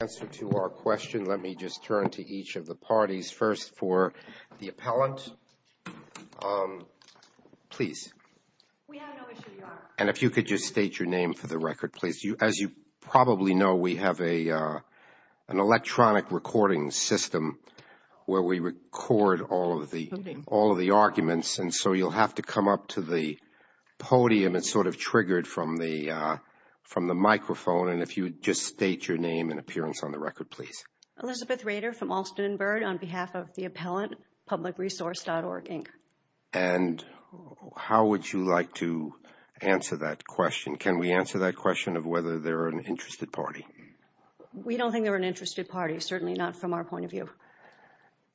Answer to our question, let me just turn to each of the parties. First for the appellant, please, and if you could just state your name for the record, please, as you probably know, we have a an electronic recording system where we record all of the all of the arguments. And so you'll have to come up to the podium. It's sort of triggered from the from the microphone. And if you would just state your name and appearance on the record, please, Elizabeth Rader from Alston and Byrd on behalf of the appellant, Public Resource.Org, Inc. And how would you like to answer that question? Can we answer that question of whether they're an interested party? We don't think they're an interested party, certainly not from our point of view.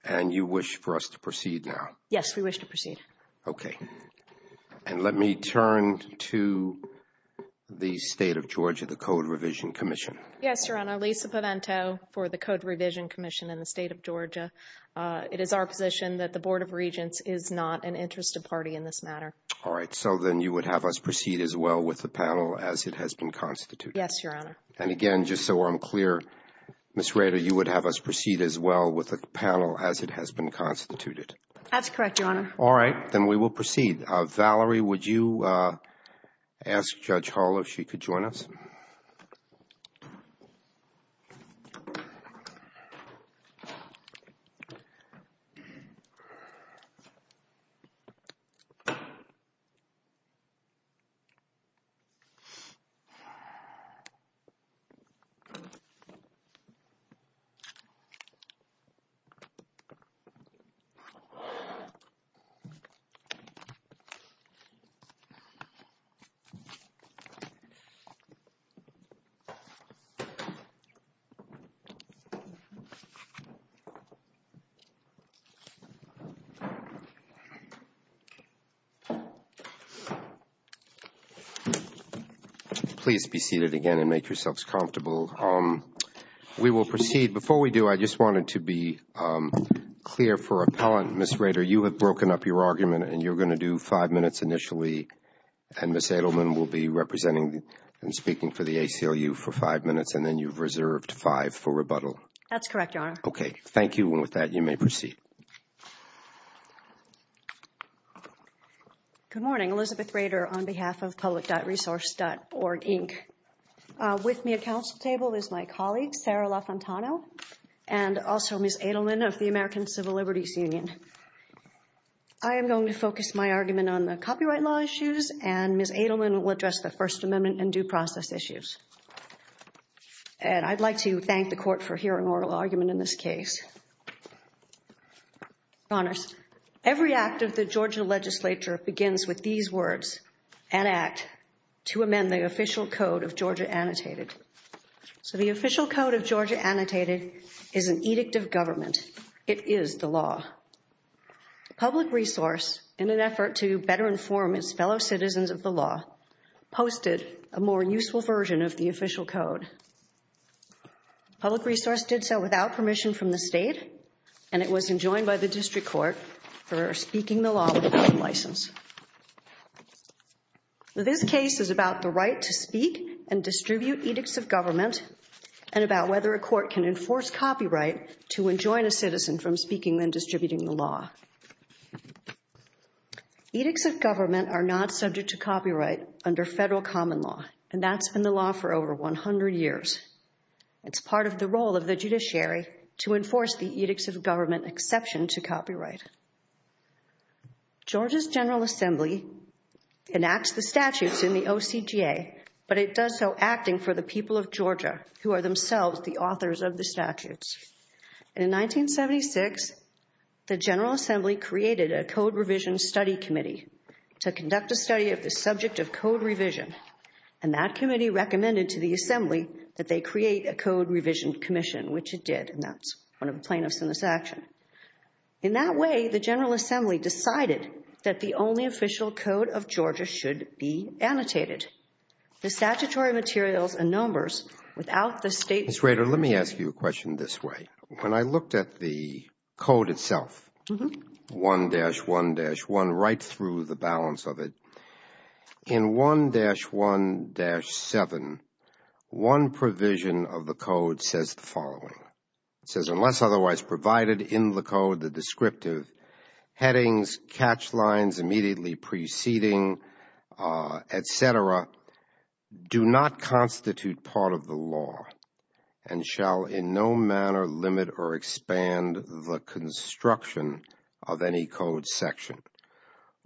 And you wish for us to proceed now? Yes, we wish to proceed. OK, and let me turn to the state of Georgia, the Code Revision Commission. Yes, Your Honor, Lisa Pavento for the Code Revision Commission in the state of Georgia. It is our position that the Board of Regents is not an interested party in this matter. All right. So then you would have us proceed as well with the panel as it has been constituted. Yes, Your Honor. And again, just so I'm clear, Ms. Rader, you would have us proceed as well with the panel as it has been constituted. That's correct, Your Honor. All right. Then we will proceed. Valerie, would you ask Judge Hall if she could join us? Please be seated again and make yourselves comfortable. We will proceed. Before we do, I just wanted to be clear for appellant, Ms. Rader, you have broken up your argument and you're going to do five minutes initially, and Ms. Edelman will be representing and speaking for the ACLU for five minutes, and then you've reserved five for rebuttal. That's correct, Your Honor. OK, thank you. And with that, you may proceed. Good morning. Elizabeth Rader on behalf of public.resource.org, Inc. With me at council table is my colleague, Sarah LaFontano, and also Ms. Edelman of the American Civil Liberties Union. I am going to focus my argument on the copyright law issues, and Ms. Edelman will address the First Amendment and due process issues. And I'd like to thank the court for hearing oral argument in this case. Your Honors, every act of the Georgia legislature begins with these words, an act to amend the official code of Georgia annotated. So the official code of Georgia annotated is an edict of government. It is the law. Public resource, in an effort to better inform its fellow citizens of the law, posted a more useful version of the official code. Public resource did so without permission from the state, and it was enjoined by the district court for speaking the law without a license. This case is about the right to speak and distribute edicts of government, and about whether a court can enforce copyright to enjoin a citizen from speaking and distributing the law. Edicts of government are not subject to copyright under federal common law, and that's been the law for over 100 years. It's part of the role of the judiciary to enforce the edicts of government exception to copyright. Georgia's General Assembly enacts the statutes in the OCGA, but it does so acting for the people of Georgia, who are themselves the authors of the statutes. In 1976, the General Assembly created a Code Revision Study Committee to conduct a study of the subject of code revision, and that committee recommended to the Assembly that they create a Code Revision Commission, which it did, and that's one of the plaintiffs in this action. In that way, the General Assembly decided that the only official code of Georgia should be annotated. The statutory materials and numbers without the state's permission... Ms. Rader, let me ask you a question this way. When I looked at the code itself, 1-1-1, right through the balance of it, in 1-1-7, one provision of the code says the following. It says, unless otherwise provided in the code the descriptive headings, catch lines immediately preceding, etc., do not constitute part of the law and shall in no manner limit or expand the construction of any code section.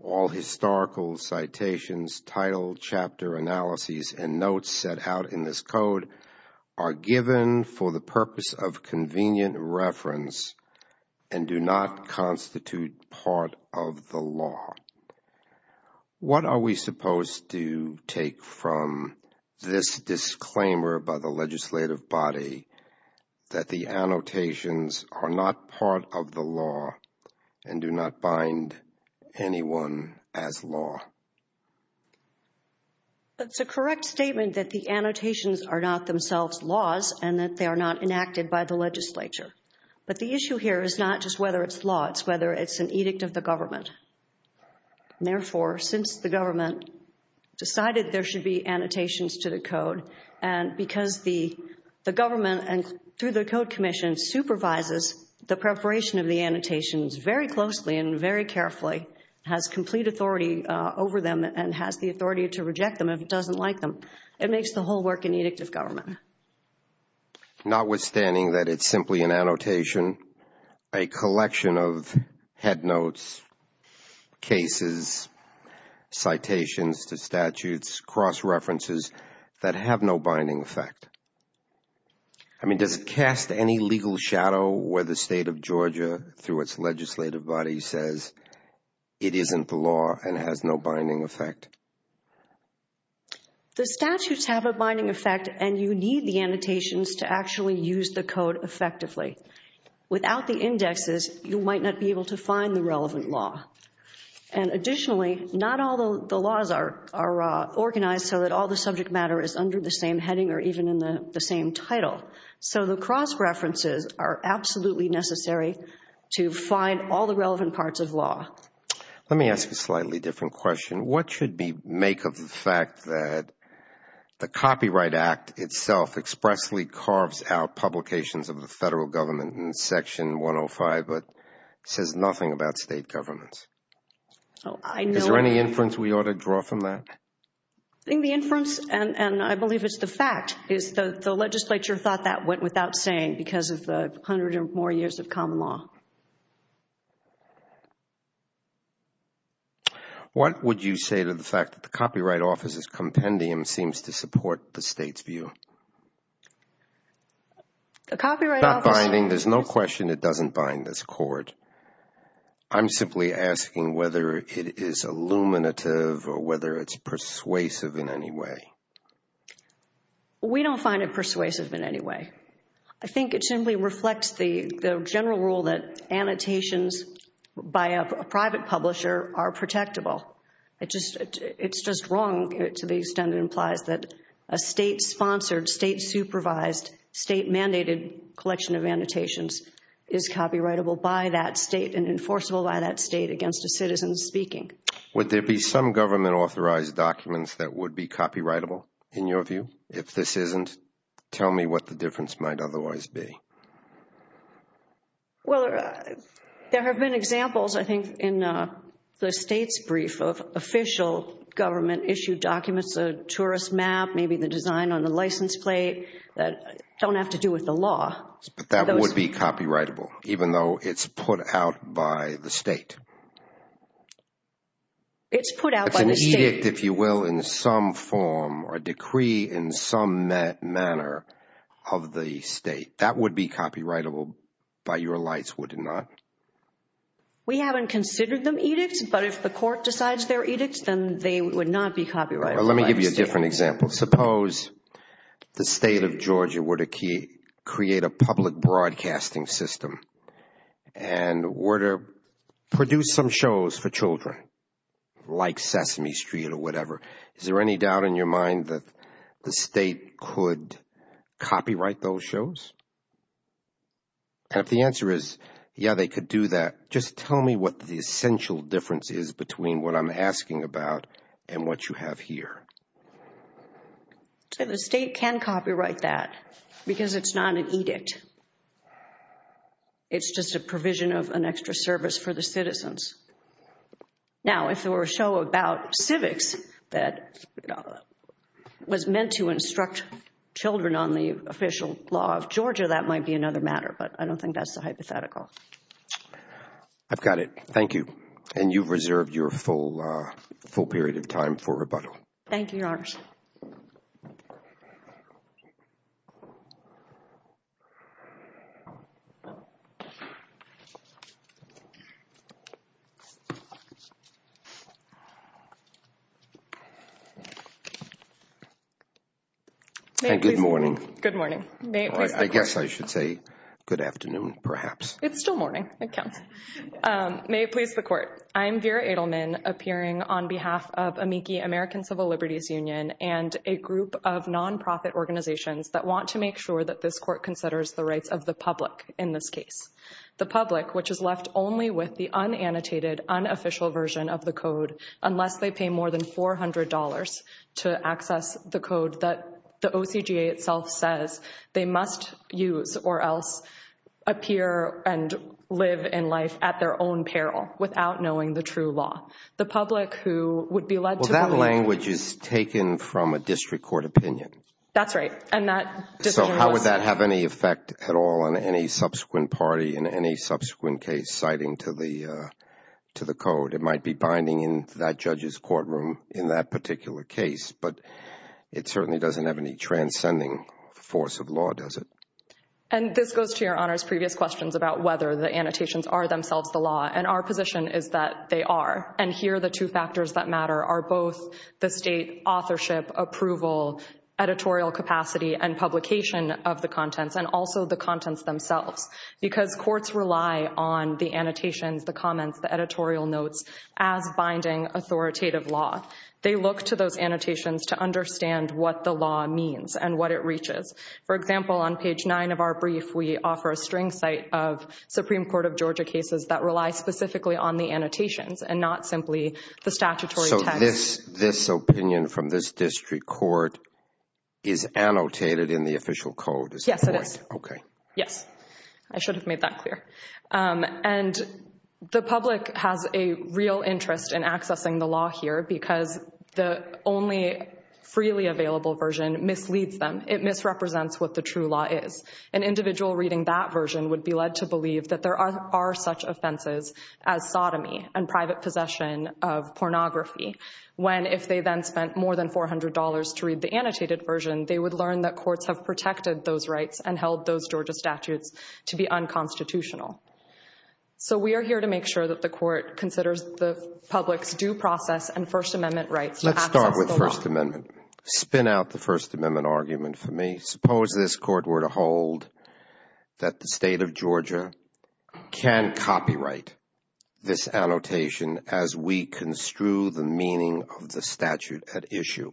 All historical citations, title, chapter, analyses, and notes set out in this code are given for the purpose of convenient reference and do not constitute part of the law. What are we supposed to take from this disclaimer by the legislative body that the annotations are not part of the law and do not bind anyone as law? It's a correct statement that the annotations are not themselves laws and that they are not enacted by the legislature. But the issue here is not just whether it's law, it's whether it's an edict of the government. Therefore, since the government decided there should be annotations to the code and because the government and through the code commission supervises the preparation of the annotations very closely and very carefully, has complete authority over them and has the authority to reject them if it doesn't like them, it makes the whole work an edict of government. Notwithstanding that it's simply an annotation, a collection of headnotes, cases, citations to statutes, cross-references that have no binding effect. I mean, does it cast any legal shadow where the state of Georgia through its legislative body says it isn't the law and has no binding effect? The statutes have a binding effect and you need the annotations to actually use the code effectively. Without the indexes you might not be able to find the relevant law. And additionally, not all the laws are organized so that all the subject matter is under the same heading or even in the same title. So the cross-references are absolutely necessary to find all the relevant parts of law. Let me ask a slightly different question. What should we make of the fact that the Copyright Act itself expressly carves out publications of the federal government in Section 105 but says nothing about state governments? Is there any inference we ought to draw from that? I think the inference, and I believe it's the fact, is that the legislature thought that went without saying because of the 100 or more years of common law. What would you say to the fact that the Copyright Office's compendium seems to support the state's view? The Copyright Office... I mean, there's no question it doesn't bind this court. I'm simply asking whether it is illuminative or whether it's persuasive in any way. We don't find it persuasive in any way. I think it simply reflects the general rule that annotations by a private publisher are protectable. It's just wrong to the extent it implies that a state-sponsored, state-supervised, state-mandated collection of annotations is copyrightable by that state and enforceable by that state against a citizen speaking. Would there be some government-authorized documents that would be copyrightable in your view? If this isn't, tell me what the difference might otherwise be. Well, there have been examples, I think, in the state's brief of official government-issued documents, a tourist map, maybe the design on the license plate, that don't have to do with the law. But that would be copyrightable, even though it's put out by the state? It's put out by the state. It's an edict, if you will, in some form or decree in some manner of the state. That would be copyrightable by your lights, would it not? We haven't considered them edicts, but if the court decides they're edicts, then they would not be copyrighted by a state. Let me give you a different example. Suppose the state of Georgia were to create a public broadcasting system and were to produce some shows for children like Sesame Street or whatever. Is there any doubt in your mind that the state could copyright those shows? And if the answer is, yeah, they could do that, just tell me what the essential difference is between what I'm asking about and what you have here. The state can copyright that because it's not an edict. It's just a provision of an extra service for the citizens. Now, if there were a show about civics that was meant to instruct children on the official law of Georgia, that might be another matter, but I don't think that's a hypothetical. I've got it. Thank you. And you've reserved your full period of time for rebuttal. Thank you, Your Honor. Good morning. I guess I should say good afternoon perhaps. It's still morning. May it please the Court. I'm Vera Edelman, appearing on behalf of Amici American Civil Liberties Union and a group of nonprofit organizations that want to make sure that this Court considers the rights of the public in this case. The public, which is left only with the unannotated, unofficial version of the code unless they pay more than $400 to access the code that the OCGA itself says they must use or else appear and live in life at their own peril without knowing the true law. The public who would be led to believe— Well, that language is taken from a district court opinion. So how would that have any effect at all on any subsequent party in any subsequent case citing to the code? It might be binding in that judge's courtroom in that particular case, but it certainly doesn't have any transcending force of law, does it? And this goes to Your Honor's previous questions about whether the annotations are themselves the law, and our position is that they are. And here the two factors that matter are both the state authorship, approval, editorial capacity, and publication of the contents, and also the contents themselves. Because courts rely on the annotations, the comments, the editorial notes as binding authoritative law. They look to those annotations to understand what the law means and what it reaches. For example, on page 9 of our brief, we offer a string site of Supreme Court of Georgia cases that rely specifically on the annotations and not simply the statutory text. So this opinion from this district court is annotated in the official code? Yes, it is. Okay. Yes. I should have made that clear. And the public has a real interest in accessing the law here because the only freely available version misleads them. It misrepresents what the true law is. An individual reading that version would be led to believe that there are such offenses as sodomy and private possession of pornography. When, if they then spent more than $400 to read the annotated version, they would learn that courts have protected those rights and held those Georgia statutes to be unconstitutional. So we are here to make sure that the court considers the public's due process and First Amendment rights Let's start with First Amendment. Spin out the First Amendment argument for me. Suppose this court were to hold that the state of Georgia can copyright this annotation as we construe the meaning of the statute at issue.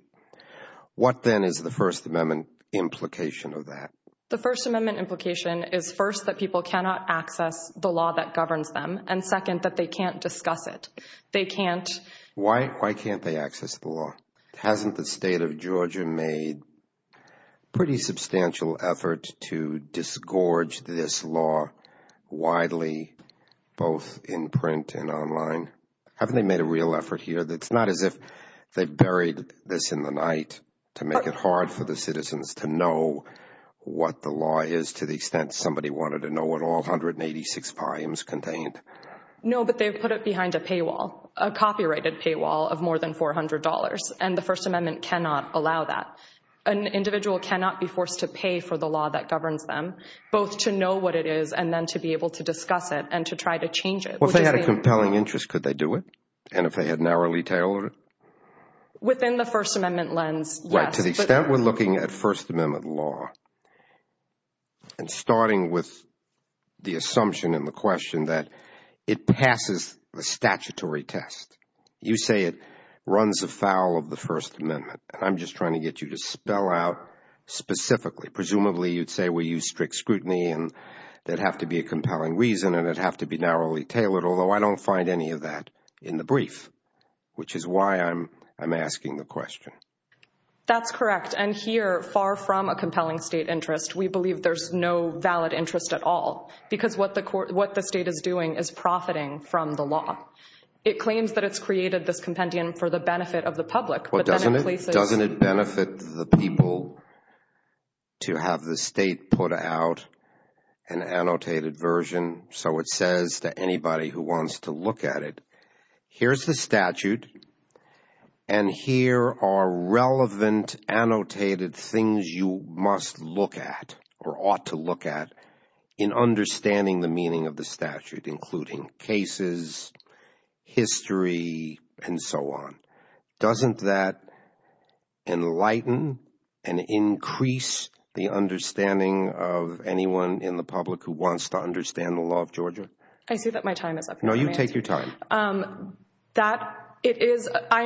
What then is the First Amendment implication of that? The First Amendment implication is first that people cannot access the law that governs them and second that they can't discuss it. They can't Why can't they access the law? Hasn't the state of Georgia made pretty substantial effort to disgorge this law widely both in print and online? Haven't they made a real effort here? It's not as if they buried this in the night to make it hard for the citizens to know what the law is to the extent somebody wanted to know what all 186 volumes contained. No, but they've put it behind a paywall, a copyrighted paywall of more than $400 and the First Amendment cannot allow that. An individual cannot be forced to pay for the law that governs them both to know what it is and then to be able to discuss it and to try to change it. Well, if they had a compelling interest, could they do it? And if they had narrowly tailored it? Within the First Amendment lens, yes. To the extent we're looking at First Amendment law and starting with the assumption and the question that it passes the statutory test. You say it runs afoul of the First Amendment. I'm just trying to get you to spell out specifically. Presumably you'd say we use strict scrutiny and there'd have to be a compelling reason and it'd have to be narrowly tailored although I don't find any of that in the brief, which is why I'm asking the question. That's correct and here far from a compelling state interest, we believe there's no valid interest at all because what the state is doing is profiting from the law. It claims that it's created this compendium for the benefit of the public. Doesn't it benefit the people to have the state put out an annotated version so it says to anybody who wants to look at it, here's the statute and here are relevant annotated things you must look at or ought to look at in understanding the meaning of the statute, including cases, history, and so on. Doesn't that enlighten and increase the understanding of anyone in the public who wants to understand the law of Georgia? I see that my time is up. No, you take your time. I'm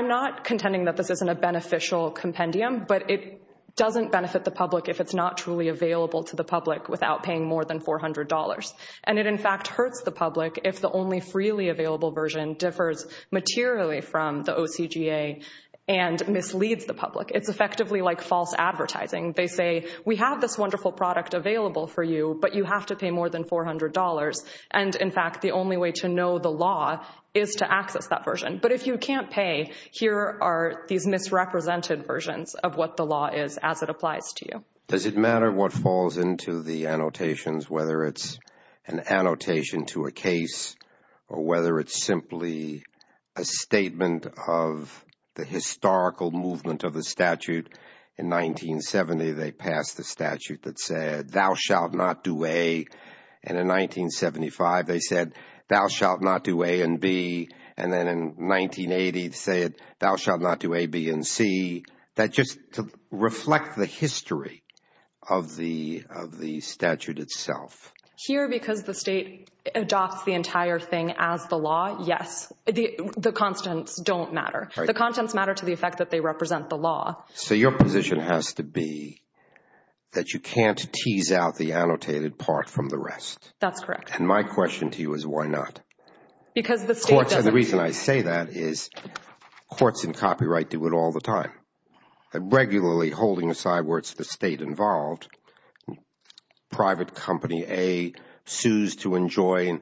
not contending that this isn't a beneficial compendium, but it doesn't benefit the public if it's not truly available to the public without paying more than $400. And it in fact hurts the public if the only freely available version differs materially from the OCGA and misleads the public. It's effectively like false advertising. They say, we have this wonderful product available for you, but you have to pay more than $400. And in fact, the only way to know the law is to access that version. But if you can't pay, here are these misrepresented versions of what the law is as it applies to you. Does it matter what falls into the annotations, whether it's an annotation to a case or whether it's simply a statement of the historical movement of the statute? In 1970 they passed the statute that said, thou shalt not do A and in 1975 they said, thou shalt not do A and B and then in 1980 they said, thou shalt not do A, B, and C. That just to reflect the history of the statute itself. Here, because the state adopts the entire thing as the law, yes. The constants don't matter. The constants matter to the effect that they represent the law. So your position has to be that you can't tease out the annotated part from the rest. That's correct. And my question to you is why not? Because the state doesn't. The reason I say that is courts in copyright do it all the time. Regularly holding aside where it's the state involved, private company A sues to enjoin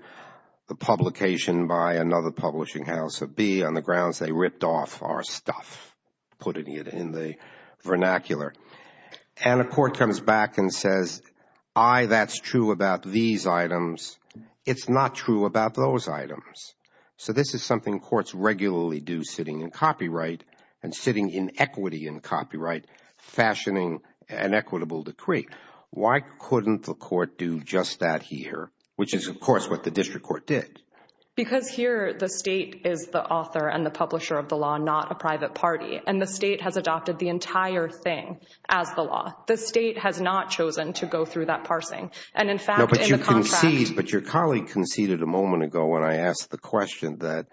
the publication by another publishing house of B on the grounds they ripped off our stuff. Putting it in the vernacular. And a court comes back and says, I, that's true about these items. It's not true about those items. So this is something courts regularly do sitting in copyright and sitting in equity in copyright fashioning an equitable decree. Why couldn't the court do just that here? Which is of course what the district court did. Because here the state is the author and the publisher of the law, not a private party. And the state has adopted the entire thing as the law. The state has not chosen to go through that parsing. And in fact, in the contract. But your colleague conceded a moment ago when I asked the question that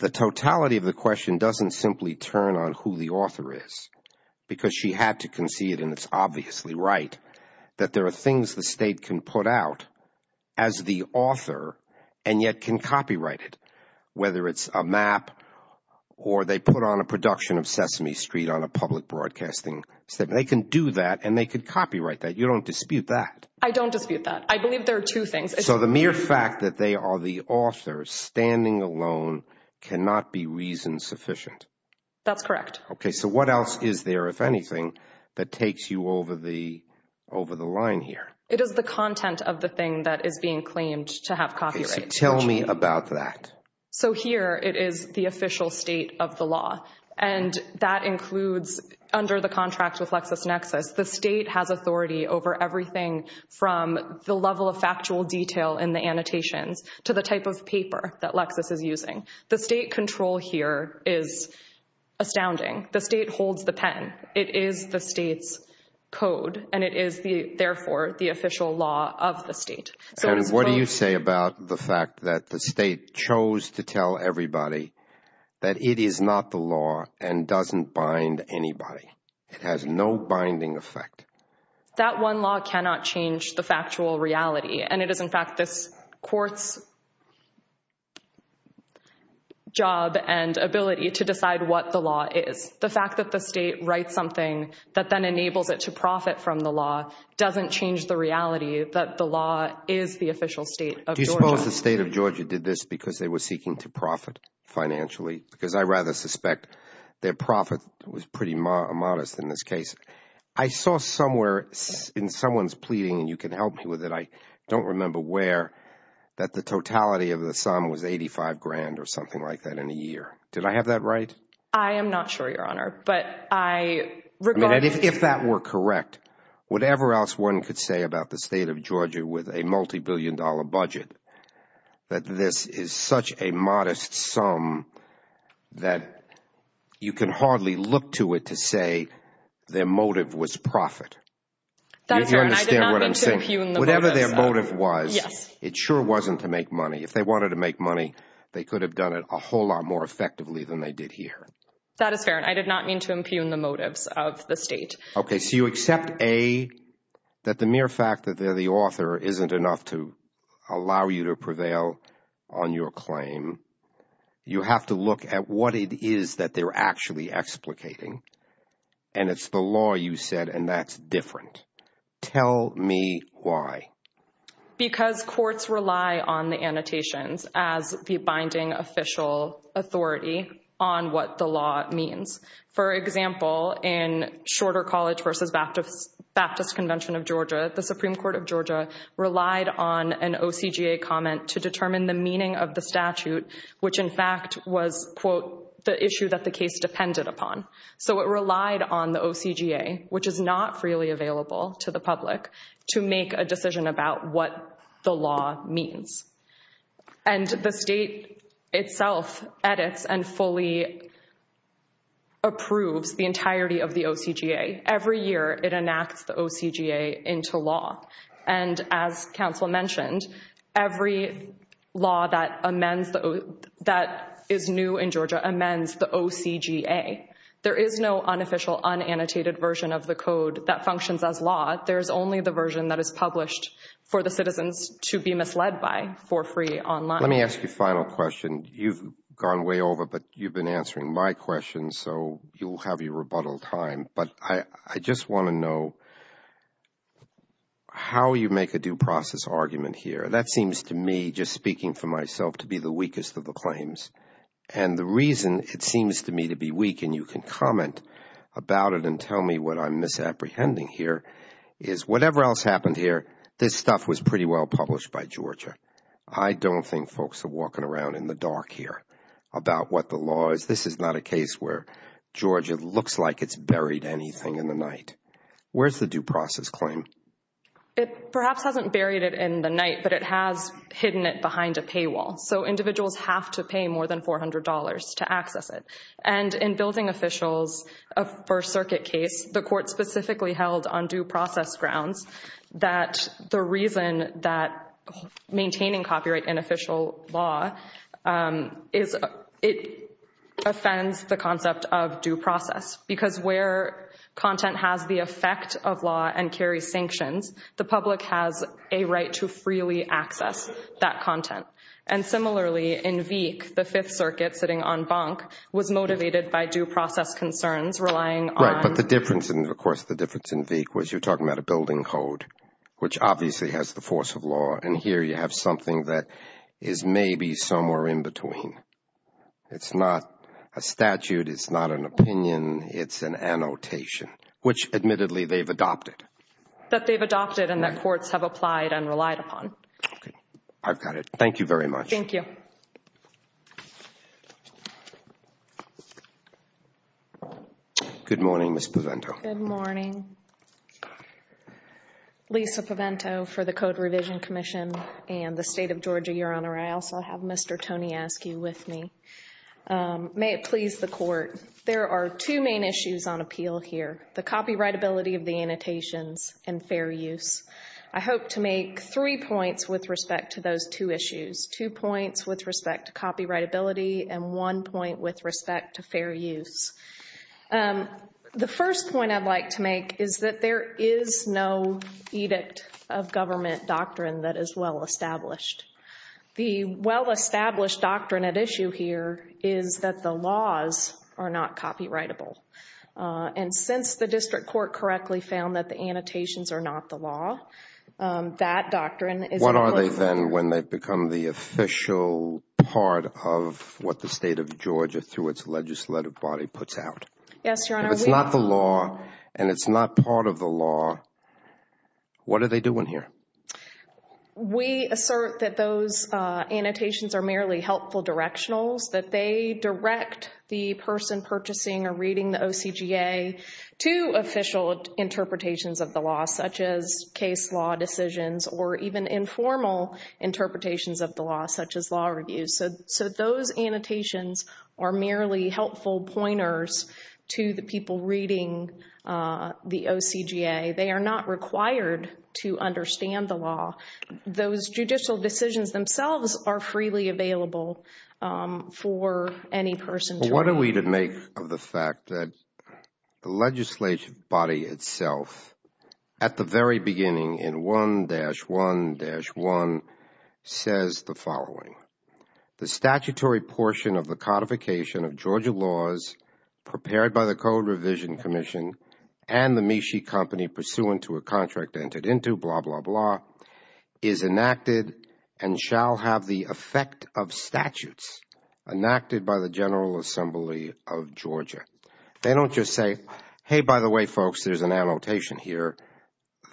the totality of the question doesn't simply turn on who the author is. Because she had to concede and it's obviously right. That there are things the state can put out as the author and yet can copyright it. Whether it's a map or they put on a production of Sesame Street on a public broadcasting. They can do that and they can copyright that. You don't dispute that. I don't dispute that. I believe there are two things. So the mere fact that they are the author standing alone cannot be reason sufficient. That's correct. So what else is there, if anything, that takes you over the line here? It is the content of the thing that is being claimed to have copyright. So tell me about that. So here it is the official state of the law. And that includes under the contract with LexisNexis. The state has authority over everything from the level of factual detail in the annotations to the type of paper that Lexis is using. The state control here is astounding. The state holds the pen. It is the state's code and it is therefore the official law of the state. And what do you say about the fact that the state chose to tell everybody that it is not the law and doesn't bind anybody. It has no binding effect. That one law cannot change the factual reality. And it is in fact this court's job and ability to decide what the law is. The fact that the state writes something that then enables it to profit from the law doesn't change the reality that the law is the official state of Georgia. Do you suppose the state of Georgia did this because they were seeking to profit financially? Because I rather suspect their profit was pretty modest in this case. I saw somewhere in someone's pleading and you can help me with it, I don't remember where, that the totality of the sum was $85,000 or something like that in a year. Did I have that right? I am not sure, Your Honor. But I regard... If that were correct, whatever else one could say about the state of Georgia with a multi-billion dollar budget, that this is such a modest sum that you can their motive was profit. That is fair. Whatever their motive was, it sure wasn't to make money. If they wanted to make money, they could have done it a whole lot more effectively than they did here. That is fair. I did not mean to impugn the motives of the state. Okay, so you accept A, that the mere fact that they're the author isn't enough to allow you to prevail on your claim. You have to look at what it is that they're actually explicating. And it's the law, you said, and that's different. Tell me why. Because courts rely on the annotations as the binding official authority on what the law means. For example, in Shorter College v. Baptist Convention of Georgia, the Supreme Court of Georgia relied on an OCGA comment to determine the meaning of the statute, which in fact was the issue that the case depended upon. So it relied on the OCGA, which is not freely available to the public, to make a decision about what the law means. And the state itself edits and fully approves the entirety of the OCGA. Every year, it enacts the OCGA into law. And as counsel mentioned, every law that amends that is new in Georgia amends the OCGA. There is no unofficial, unannotated version of the code that functions as law. There is only the version that is published for the citizens to be misled by for free online. Let me ask you a final question. You've gone way over, but you've been answering my questions, so you'll have your rebuttal time. But I just want to know how you make a due process argument here. That seems to me just speaking for myself to be the weakest of the claims. And the reason it seems to me to be weak, and you can comment about it and tell me what I'm misapprehending here, is whatever else happened here this stuff was pretty well published by Georgia. I don't think folks are walking around in the dark here about what the law is. This is not a case where Georgia looks like it's buried anything in the night. Where's the due process claim? It perhaps hasn't buried it in the night, but it has hidden it behind a paywall. So individuals have to pay more than $400 to access it. And in building officials first circuit case, the court specifically held on due process grounds that the reason that maintaining copyright in official law offends the concept of due process. Because where content has the effect of law and carries sanctions, the public has a right to freely access that content. And similarly in Veek, the fifth circuit sitting on bunk was motivated by due process concerns relying on... Right, but the difference in Veek was you're talking about a building code, which obviously has the force of law. And here you have something that is maybe somewhere in between. It's not a statute, it's not an opinion, it's an annotation. Which admittedly they've adopted. That they've adopted and that courts have applied and relied upon. I've got it. Thank you very much. Thank you. Good morning, Ms. Pavento. Good morning. Lisa Pavento for the Code Revision Commission and the State of Georgia, Your Honor. I also have Mr. Tony Askew with me. May it please the Court, there are two main issues on appeal here. The copyrightability of the annotations and fair use. I hope to make three points with respect to those two issues. Two points with respect to copyrightability and one point with respect to fair use. The first point I'd like to make is that there is no edict of government doctrine that is well established. The well established doctrine at issue here is that the laws are not copyrightable. And since the district court correctly found that the annotations are not the law, that doctrine is What are they then when they've become the official part of what the State of Georgia through its legislative body puts out? Yes, Your Honor. If it's not the law and it's not part of the law, what are they doing here? We assert that those annotations are merely helpful directionals. That they direct the person purchasing or reading the OCGA to official interpretations of the law such as case law decisions or even informal interpretations of the law such as law reviews. So those annotations are merely helpful pointers to the people reading the OCGA. They are not required to understand the law. Those judicial decisions themselves are freely available for any person to read. What are we to make of the fact that the legislative body itself at the very beginning in 1-1-1 says the following. The statutory portion of the codification of Georgia laws prepared by the Code Revision Commission and the MeShe Company pursuant to a contract entered into, blah blah blah, is enacted and shall have the effect of statutes enacted by the General Assembly of Georgia. They don't just say, hey, by the way, folks, there's an annotation here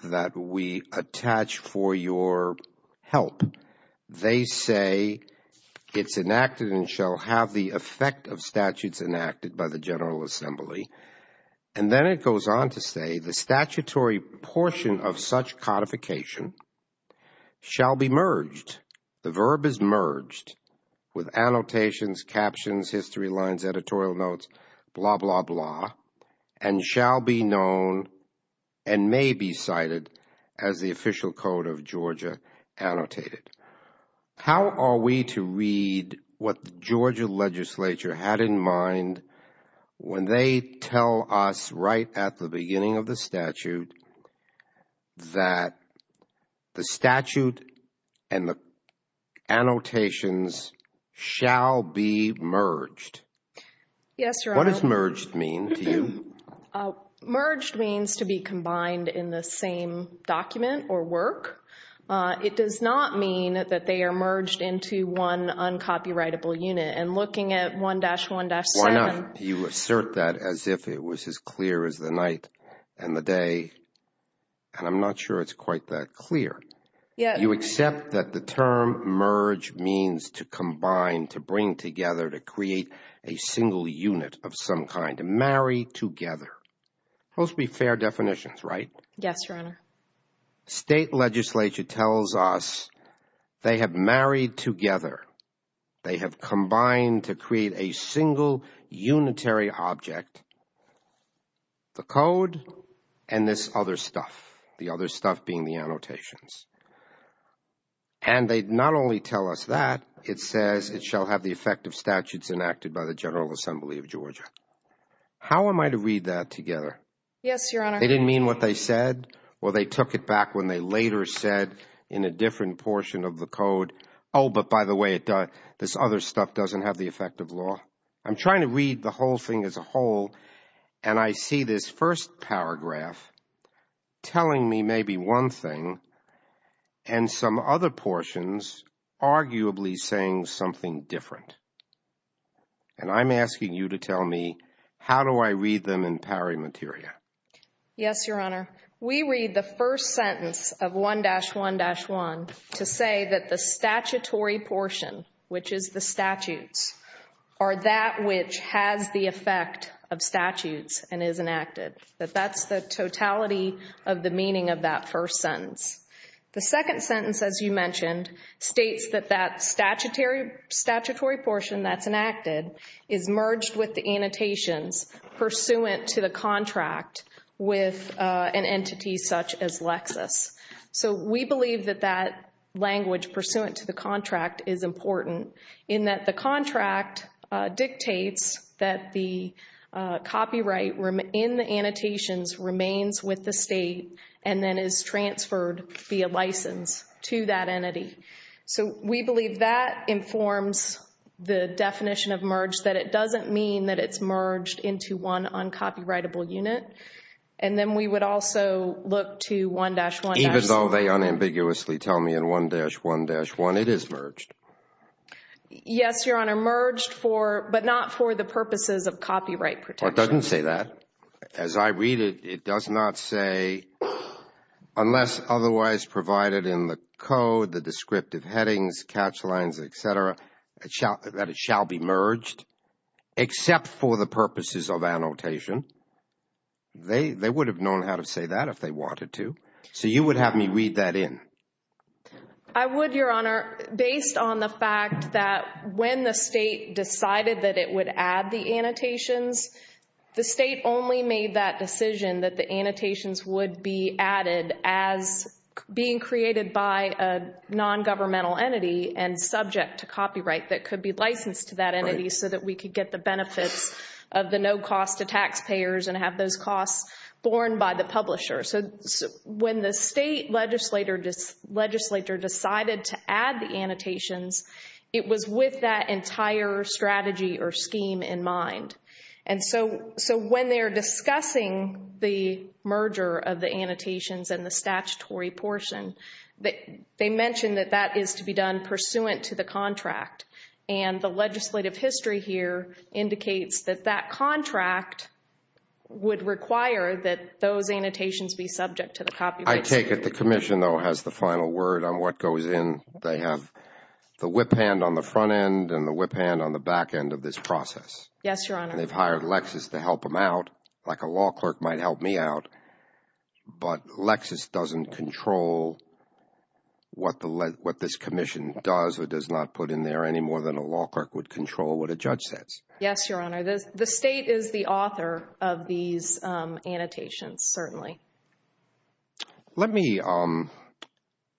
that we attach for your help. They say it's enacted and shall have the effect of statutes enacted by the General Assembly and then it goes on to say the statutory portion of such codification shall be merged the verb is merged with annotations, captions, history lines, editorial notes, blah blah blah and shall be known and may be cited as the official code of Georgia annotated. How are we to read what the Georgia legislature had in mind when they tell us right at the beginning of the statute that the statute and the annotations shall be merged? Yes, Your Honor. What does merged mean to you? Merged means to be combined in the same document or work. It does not mean that they are merged into one uncopyrightable unit and looking at 1-1-7. Why not? You assert that as if it and the day and I'm not sure it's quite that clear you accept that the term merge means to combine to bring together to create a single unit of some kind to marry together. Those would be fair definitions, right? Yes, Your Honor. State legislature tells us they have married together. They have combined to create a single unitary object. The code and this other stuff. The other stuff being the annotations. And they not only tell us that, it says it shall have the effect of statutes enacted by the General Assembly of Georgia. How am I to read that together? Yes, Your Honor. They didn't mean what they said? Well, they took it back when they later said in a different portion of the code oh, but by the way, this other stuff doesn't have the effect of law. I'm trying to read the whole thing as a whole and I see this first paragraph telling me maybe one thing and some other portions arguably saying something different. And I'm asking you to tell me how do I read them in pari materia? Yes, Your Honor. We read the first sentence of 1-1-1 to say that the statutory portion, which is the statutes, are that which has the effect of statutes and is enacted. That that's the totality of the meaning of that first sentence. The second sentence, as you mentioned states that that statutory portion that's enacted is merged with the annotations pursuant to the contract with an entity such as Lexis. So we believe that that language pursuant to the contract dictates that the copyright in the annotations remains with the state and then is transferred via license to that entity. So we believe that informs the definition of merge that it doesn't mean that it's merged into one uncopyrightable unit. And then we would also look to 1-1- Even though they unambiguously tell me in 1-1-1 it is merged. Yes, Your Honor. Merged for, but not for the purposes of copyright protection. Well, it doesn't say that. As I read it, it does not say unless otherwise provided in the code, the descriptive headings, catch lines, etc., that it shall be merged except for the purposes of annotation. They would have known how to say that if they wanted to. So you would have me read that in. I would, Your Honor, based on the fact that when the state decided that it would add the annotations the state only made that decision that the annotations would be added as being created by a non-governmental entity and subject to copyright that could be licensed to that entity so that we could get the benefits of the no cost to taxpayers and have those costs borne by the publisher. So when the state legislator decided to add the annotations, it was with that entire strategy or scheme in mind. And so when they're discussing the merger of the annotations and the statutory portion, they mention that that is to be done pursuant to the contract. And the legislative history here indicates that that contract would require that those annotations be subject to the copyrights. I take it the commission though has the final word on what goes in. They have the whip hand on the front end and the whip hand on the back end of this process. Yes, Your Honor. They've hired Lexis to help them out like a law clerk might help me out. But Lexis doesn't control what this commission does or does not put in there any more than a law clerk would control what a judge says. Yes, Your Honor. The state is the author of these annotations, certainly. Let me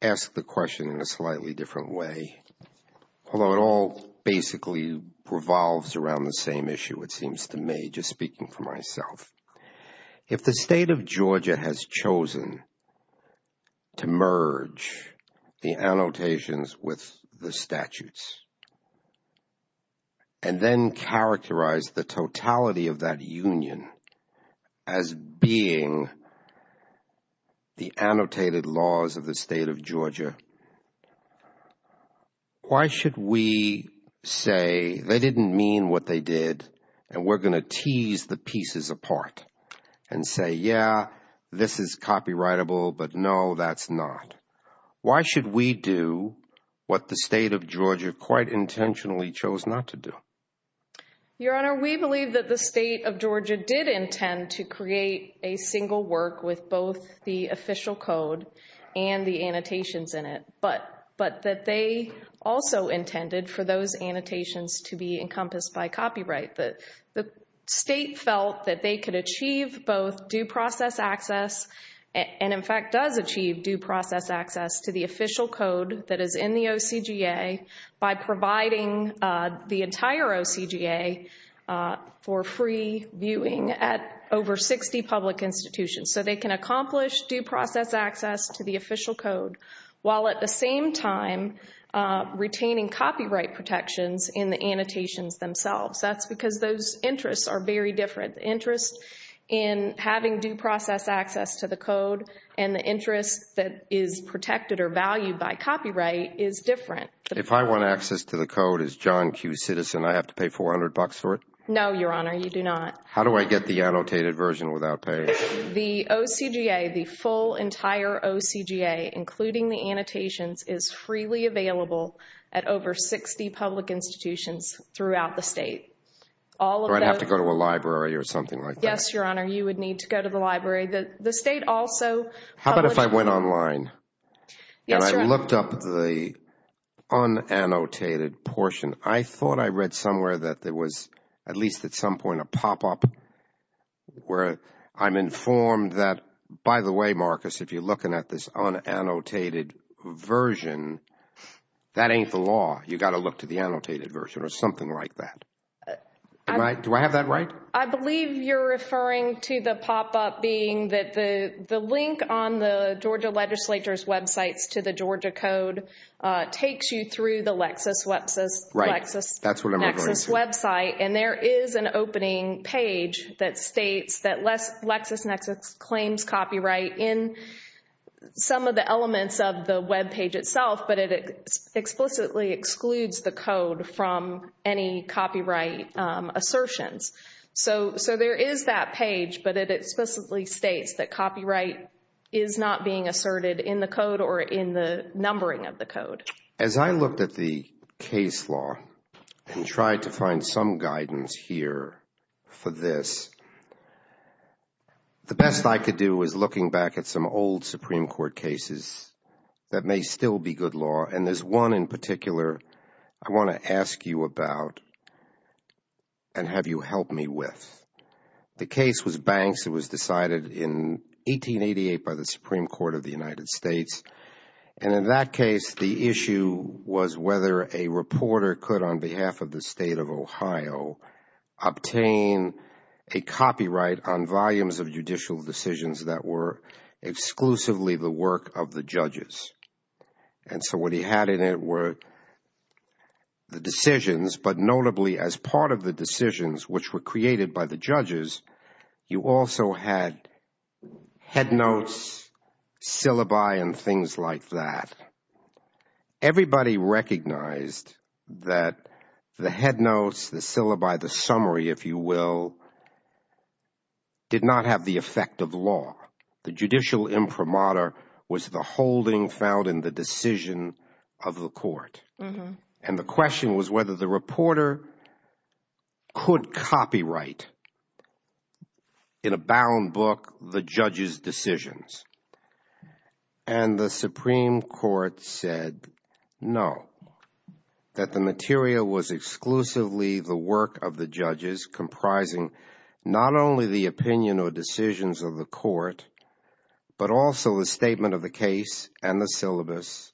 ask the question in a slightly different way. Although it all basically revolves around the same issue, it seems to me, just speaking for myself. If the state of Georgia has chosen to merge the annotations with the statutes and then characterize the totality of that union as being the annotated laws of the state of Georgia, why should we say they didn't mean what they did and we're going to tease the pieces apart and say, yeah, this is copyrightable, but no, that's not. Why should we do what the state of Georgia quite intentionally chose not to do? Your Honor, we believe that the state of Georgia did intend to create a single work with both the official code and the annotations in it, but that they also intended for those annotations to be encompassed by copyright. The state felt that they could achieve both due process access and, in fact, does achieve due process access to the official code that is in the OCGA by providing the entire OCGA for free viewing at over 60 public institutions. So they can accomplish due process access to the official code while at the same time retaining copyright protections in the annotations themselves. That's because those interests are very different. The interest in having due process access to the code and the interest that is protected or valued by copyright is different. If I want access to the code as John Q. Citizen, I have to pay $400 for it? No, Your Honor, you do not. How do I get the annotated version without paying? The OCGA, the full entire OCGA, including the annotations, is freely available at over 60 public institutions throughout the state. Do I have to go to a library or something like that? Yes, Your Honor, you would need to go to the library. The state also... How about if I went online? Yes, Your Honor. And I looked up the unannotated portion. I thought I read somewhere that there was, at least at some point, a pop-up where I'm informed that, by the way, Marcus, if you're looking at this unannotated version, that ain't the law. You got to look to the annotated version or something like that. Do I have that right? I believe you're referring to the pop-up being that the copywriter's websites to the Georgia Code takes you through the LexisNexis website. That's what I'm referring to. And there is an opening page that states that LexisNexis claims copyright in some of the elements of the webpage itself, but it explicitly excludes the code from any copyright assertions. So there is that page, but it explicitly states that copyright is not being asserted in the code or in the numbering of the code. As I looked at the case law and tried to find some guidance here for this, the best I could do was looking back at some old Supreme Court cases that may still be good law, and there's one in particular I want to ask you about and have you help me with. The case was Banks. It was decided in 1888 by the Supreme Court of the United States. And in that case, the issue was whether a reporter could, on behalf of the state of Ohio, obtain a copyright on volumes of judicial decisions that were exclusively the work of the judges. And so what he had in it were the decisions, but notably as part of the decisions which were created by the judges, you also had headnotes, syllabi, and things like that. Everybody recognized that the headnotes, the syllabi, the summary, if you will, did not have the effect of law. The judicial imprimatur was the holding found in the decision of the court. And the question was whether the reporter could copyright in a bound book the judge's decisions. And the Supreme Court said no. That the material was exclusively the work of the judges, comprising not only the opinion or decisions of the court, but also the statement of the case and the syllabus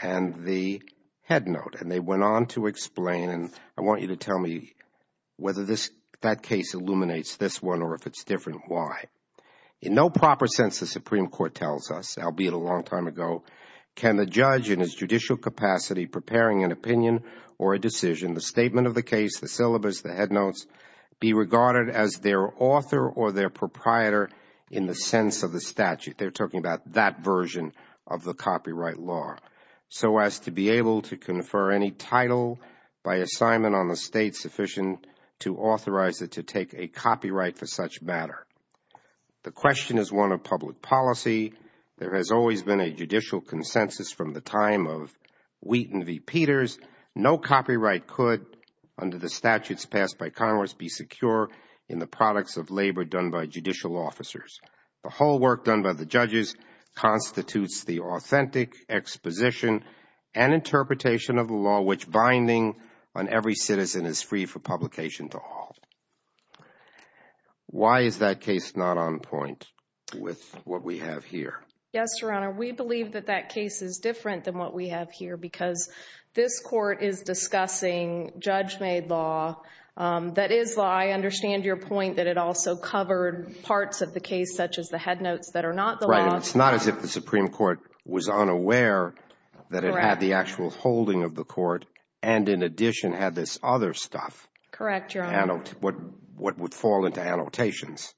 and the headnote. And they went on to explain, and I want you to tell me whether that case illuminates this one or if it's different, why. In no proper sense, the Supreme Court tells us, albeit a long time ago, can the judge in his judicial capacity preparing an opinion or a decision, the statement of the case, the syllabus, the headnotes, be regarded as their author or their proprietor in the sense of the statute. They're talking about that version of the copyright law. So as to be able to confer any title by assignment on the state sufficient to authorize it to take a copyright for such matter. The question is one of public policy. There has always been a judicial consensus from the time of Wheaton v. Peters. No copyright could, under the statutes passed by Congress, be secure in the products of labor done by judicial officers. The whole work done by the judges constitutes the authentic exposition and interpretation of the law which binding on every citizen is free for publication to all. Why is that case not on point with what we have here? Yes, Your Honor, we believe that that case is different than what we have here because this Court is discussing judge-made law that is law. I understand your point that it also covered parts of the case such as the headnotes that are not the law. It's not as if the Supreme Court was unaware that it had the actual holding of the court and in addition had this other stuff. Correct, Your Honor. What would fall into annotations.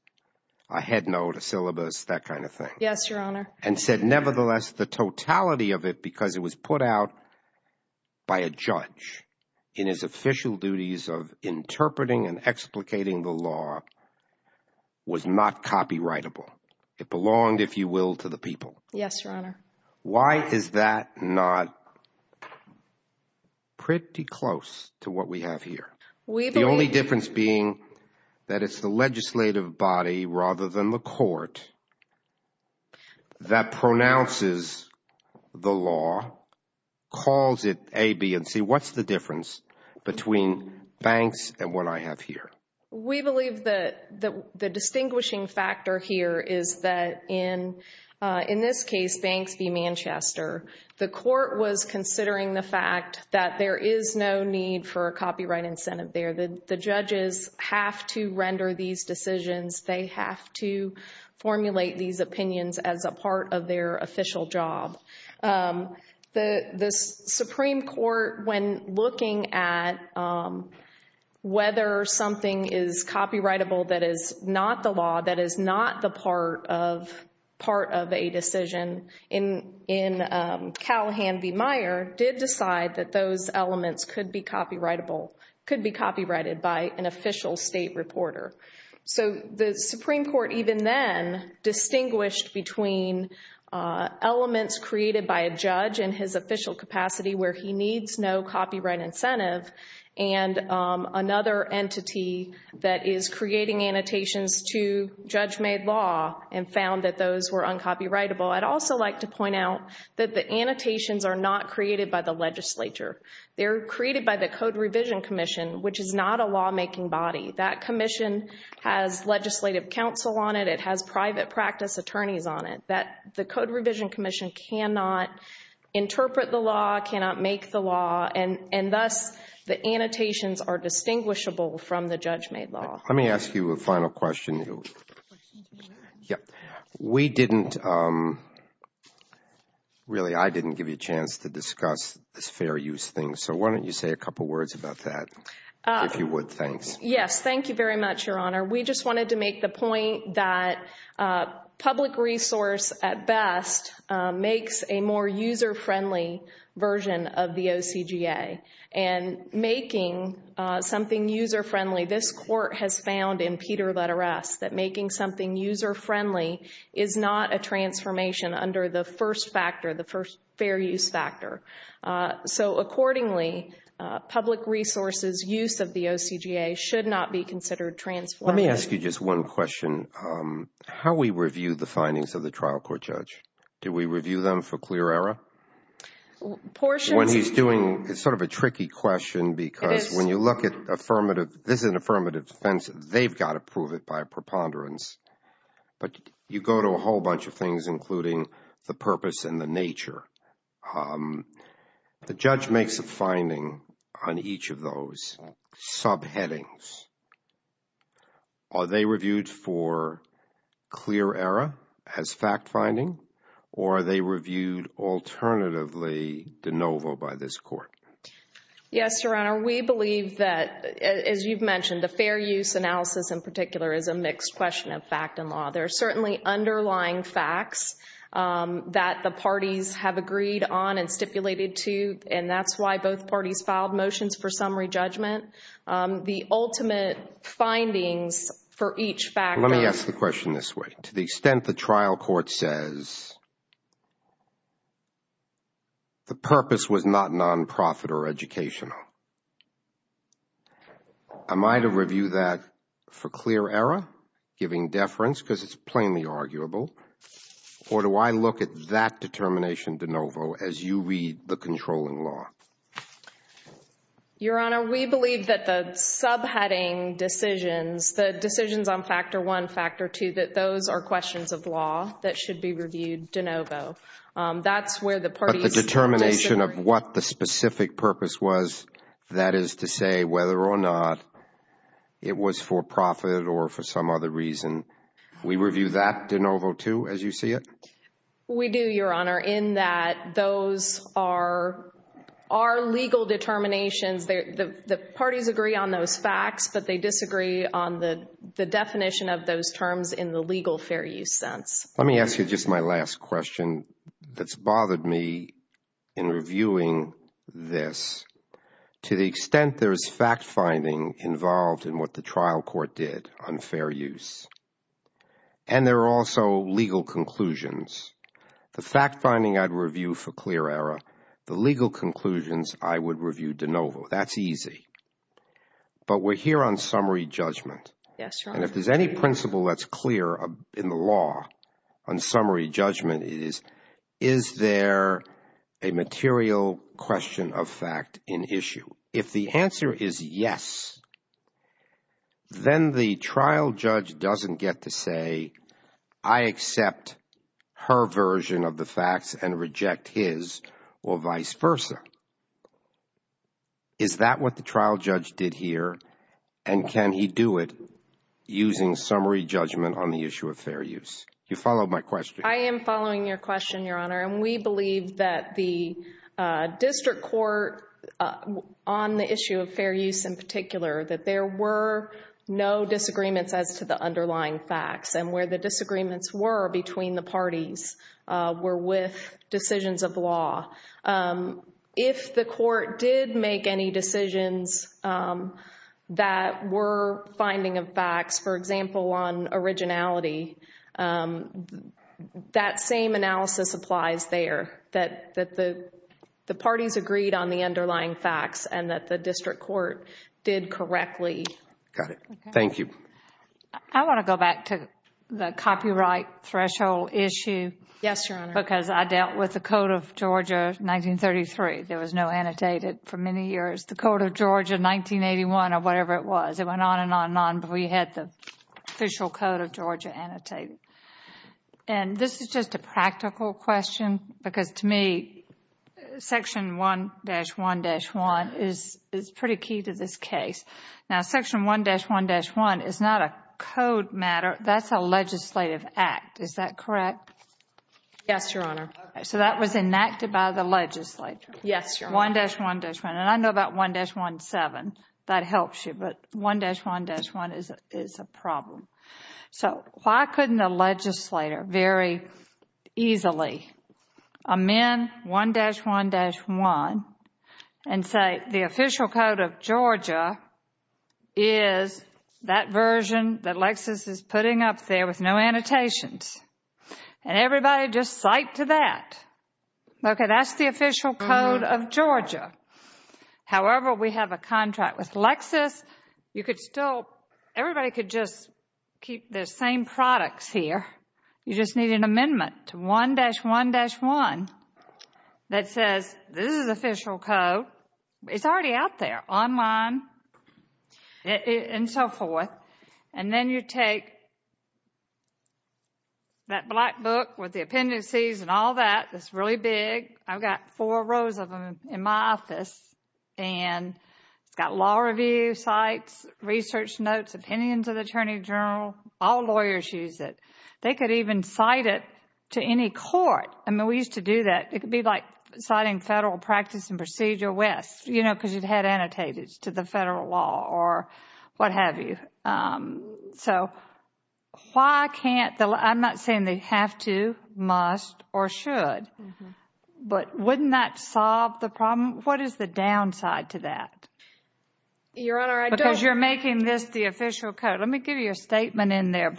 A headnote, a syllabus, that kind of thing. Yes, Your Honor. And said nevertheless the totality of it because it was put out by a judge in his official duties of interpreting and explicating the law was not copyrightable. It belonged, if you will, to the people. Yes, Your Honor. Why is that not pretty close to what we have here? The only difference being that it's the legislative body rather than the court that pronounces the law calls it A, B, and C. What's the difference between banks and what I have here? We believe that the distinguishing factor here is that in this case, Banks v. Manchester, the court was considering the fact that there is no need for a copyright incentive there. The judges have to render these decisions. They have to formulate these opinions as a part of their official job. The Supreme Court when looking at whether something is copyrightable that is not the law, that is not the part of a decision, in Callahan v. Meyer, did decide that those elements could be copyrighted by an official state reporter. The Supreme Court even then distinguished between elements created by a judge in his official capacity where he needs no copyright incentive and another entity that is creating annotations to judge-made law and found that those were uncopyrightable. I'd also like to point out that the annotations are not created by the legislature. They're created by the Code Revision Commission, which is not a law making body. That commission has legislative counsel on it. It has private practice attorneys on it. The Code Revision Commission cannot interpret the law, cannot make the law, and thus the annotations are distinguishable from the judge-made law. Let me ask you a final question. We didn't, really I didn't give you a chance to discuss this fair use thing, so why don't you say a couple words about that, if you would, thanks. Yes, thank you very much, Your Honor. We just wanted to make the point that public resource at best makes a more user-friendly version of the OCGA, and making something user-friendly, this Court has found in Peter letter S that making something user-friendly is not a transformation under the first factor, the fair use factor. So accordingly, public resources use of the OCGA should not be considered transformative. Let me ask you just one question. How we review the findings of the trial court judge? Do we review them for clear error? When he's doing, it's sort of a tricky question because when you look at affirmative, this is an affirmative defense, they've got to prove it by preponderance, but you go to a whole bunch of things including the purpose and the nature. The judge makes a finding on each of those subheadings. Are they reviewed for clear error as fact-finding, or are they reviewed alternatively de novo by this Court? Yes, Your Honor, we believe that as you've mentioned, the fair use analysis in particular is a mixed question of fact and law. There are certainly underlying facts that the parties have agreed on and stipulated to, and that's why both parties filed motions for summary judgment. The ultimate findings for each factor... Let me ask the question this way. To the extent the trial court says the purpose was not non-profit or educational, am I to review that for clear error, giving deference because it's plainly arguable, or do I look at that determination de novo as you read the controlling law? Your Honor, we believe that the subheading decisions, the decisions on Factor 1, Factor 2, that those are questions of law that should be reviewed de novo. That's where the parties disagree. But the determination of what the specific purpose was, that is to say whether or not it was for profit or for some other reason, we review that de novo too, as you see it? We do, Your Honor, in that those are legal determinations. The parties agree on those facts, but they disagree on the definition of those terms in the legal fair use sense. Let me ask you just my last question that's bothered me in reviewing this. To the extent there is fact-finding involved in what the trial court did on fair use, and there are also legal conclusions, the fact-finding I'd review for clear error, the legal conclusions I would review de novo. That's easy. But we're here on summary judgment. Yes, Your Honor. And if there's any principle that's clear in the law on summary judgment it is, is there a material question of fact in issue? If the answer is yes, then the trial judge doesn't get to say, I accept her version of the facts and reject his, or vice versa. Is that what the trial judge did here and can he do it using summary judgment on the issue of fair use? You follow my question? I am following your question, Your Honor. And we believe that the district court on the issue of fair use in particular, that there were no disagreements as to the underlying facts and where the disagreements were between the parties were with decisions of the law. If the court did make any decisions that were finding of facts, for example, on originality, that same analysis applies there, that the parties agreed on the underlying facts and that the district court did correctly. Got it. Thank you. I want to go back to the copyright threshold issue. Yes, Your Honor. Because I dealt with the Code of Georgia 1933. There was no annotated for many years. The Code of Georgia 1981 or whatever it was, it went on and on and on, but we had the official Code of Georgia annotated. And this is just a practical question because to me, Section 1-1-1 is pretty key to this case. Now, Section 1-1-1 is not a code matter. That is a legislative act. Is that correct? Yes, Your Honor. So that was enacted by the legislature. Yes, Your Honor. 1-1-1. And I know about 1-1-7. That helps you, but 1-1-1 is a problem. So why couldn't a legislator very easily amend 1-1-1 and say the official Code of Georgia is that version that Lexis is putting up there with no annotations? And everybody just psyched to that. Okay, that's the official Code of Georgia. However, we have a contract with Lexis. Everybody could just keep their same products here. You just need an amendment to 1-1-1 that says this is official code. It's already out there. Online and so forth. And then you take that black book with the appendices and all that. It's really big. I've got four rows of them in my office. It's got law review, cites, research notes, opinions of the Attorney General. All lawyers use it. They could even cite it to any court. I mean, we used to do that. It could be like citing federal practice and procedure with, you know, because you've had annotated to the federal law or what have you. I'm not saying they have to, must, or should. But wouldn't that solve the problem? What is the downside to that? Because you're making this the official code. Let me give you a statement in there.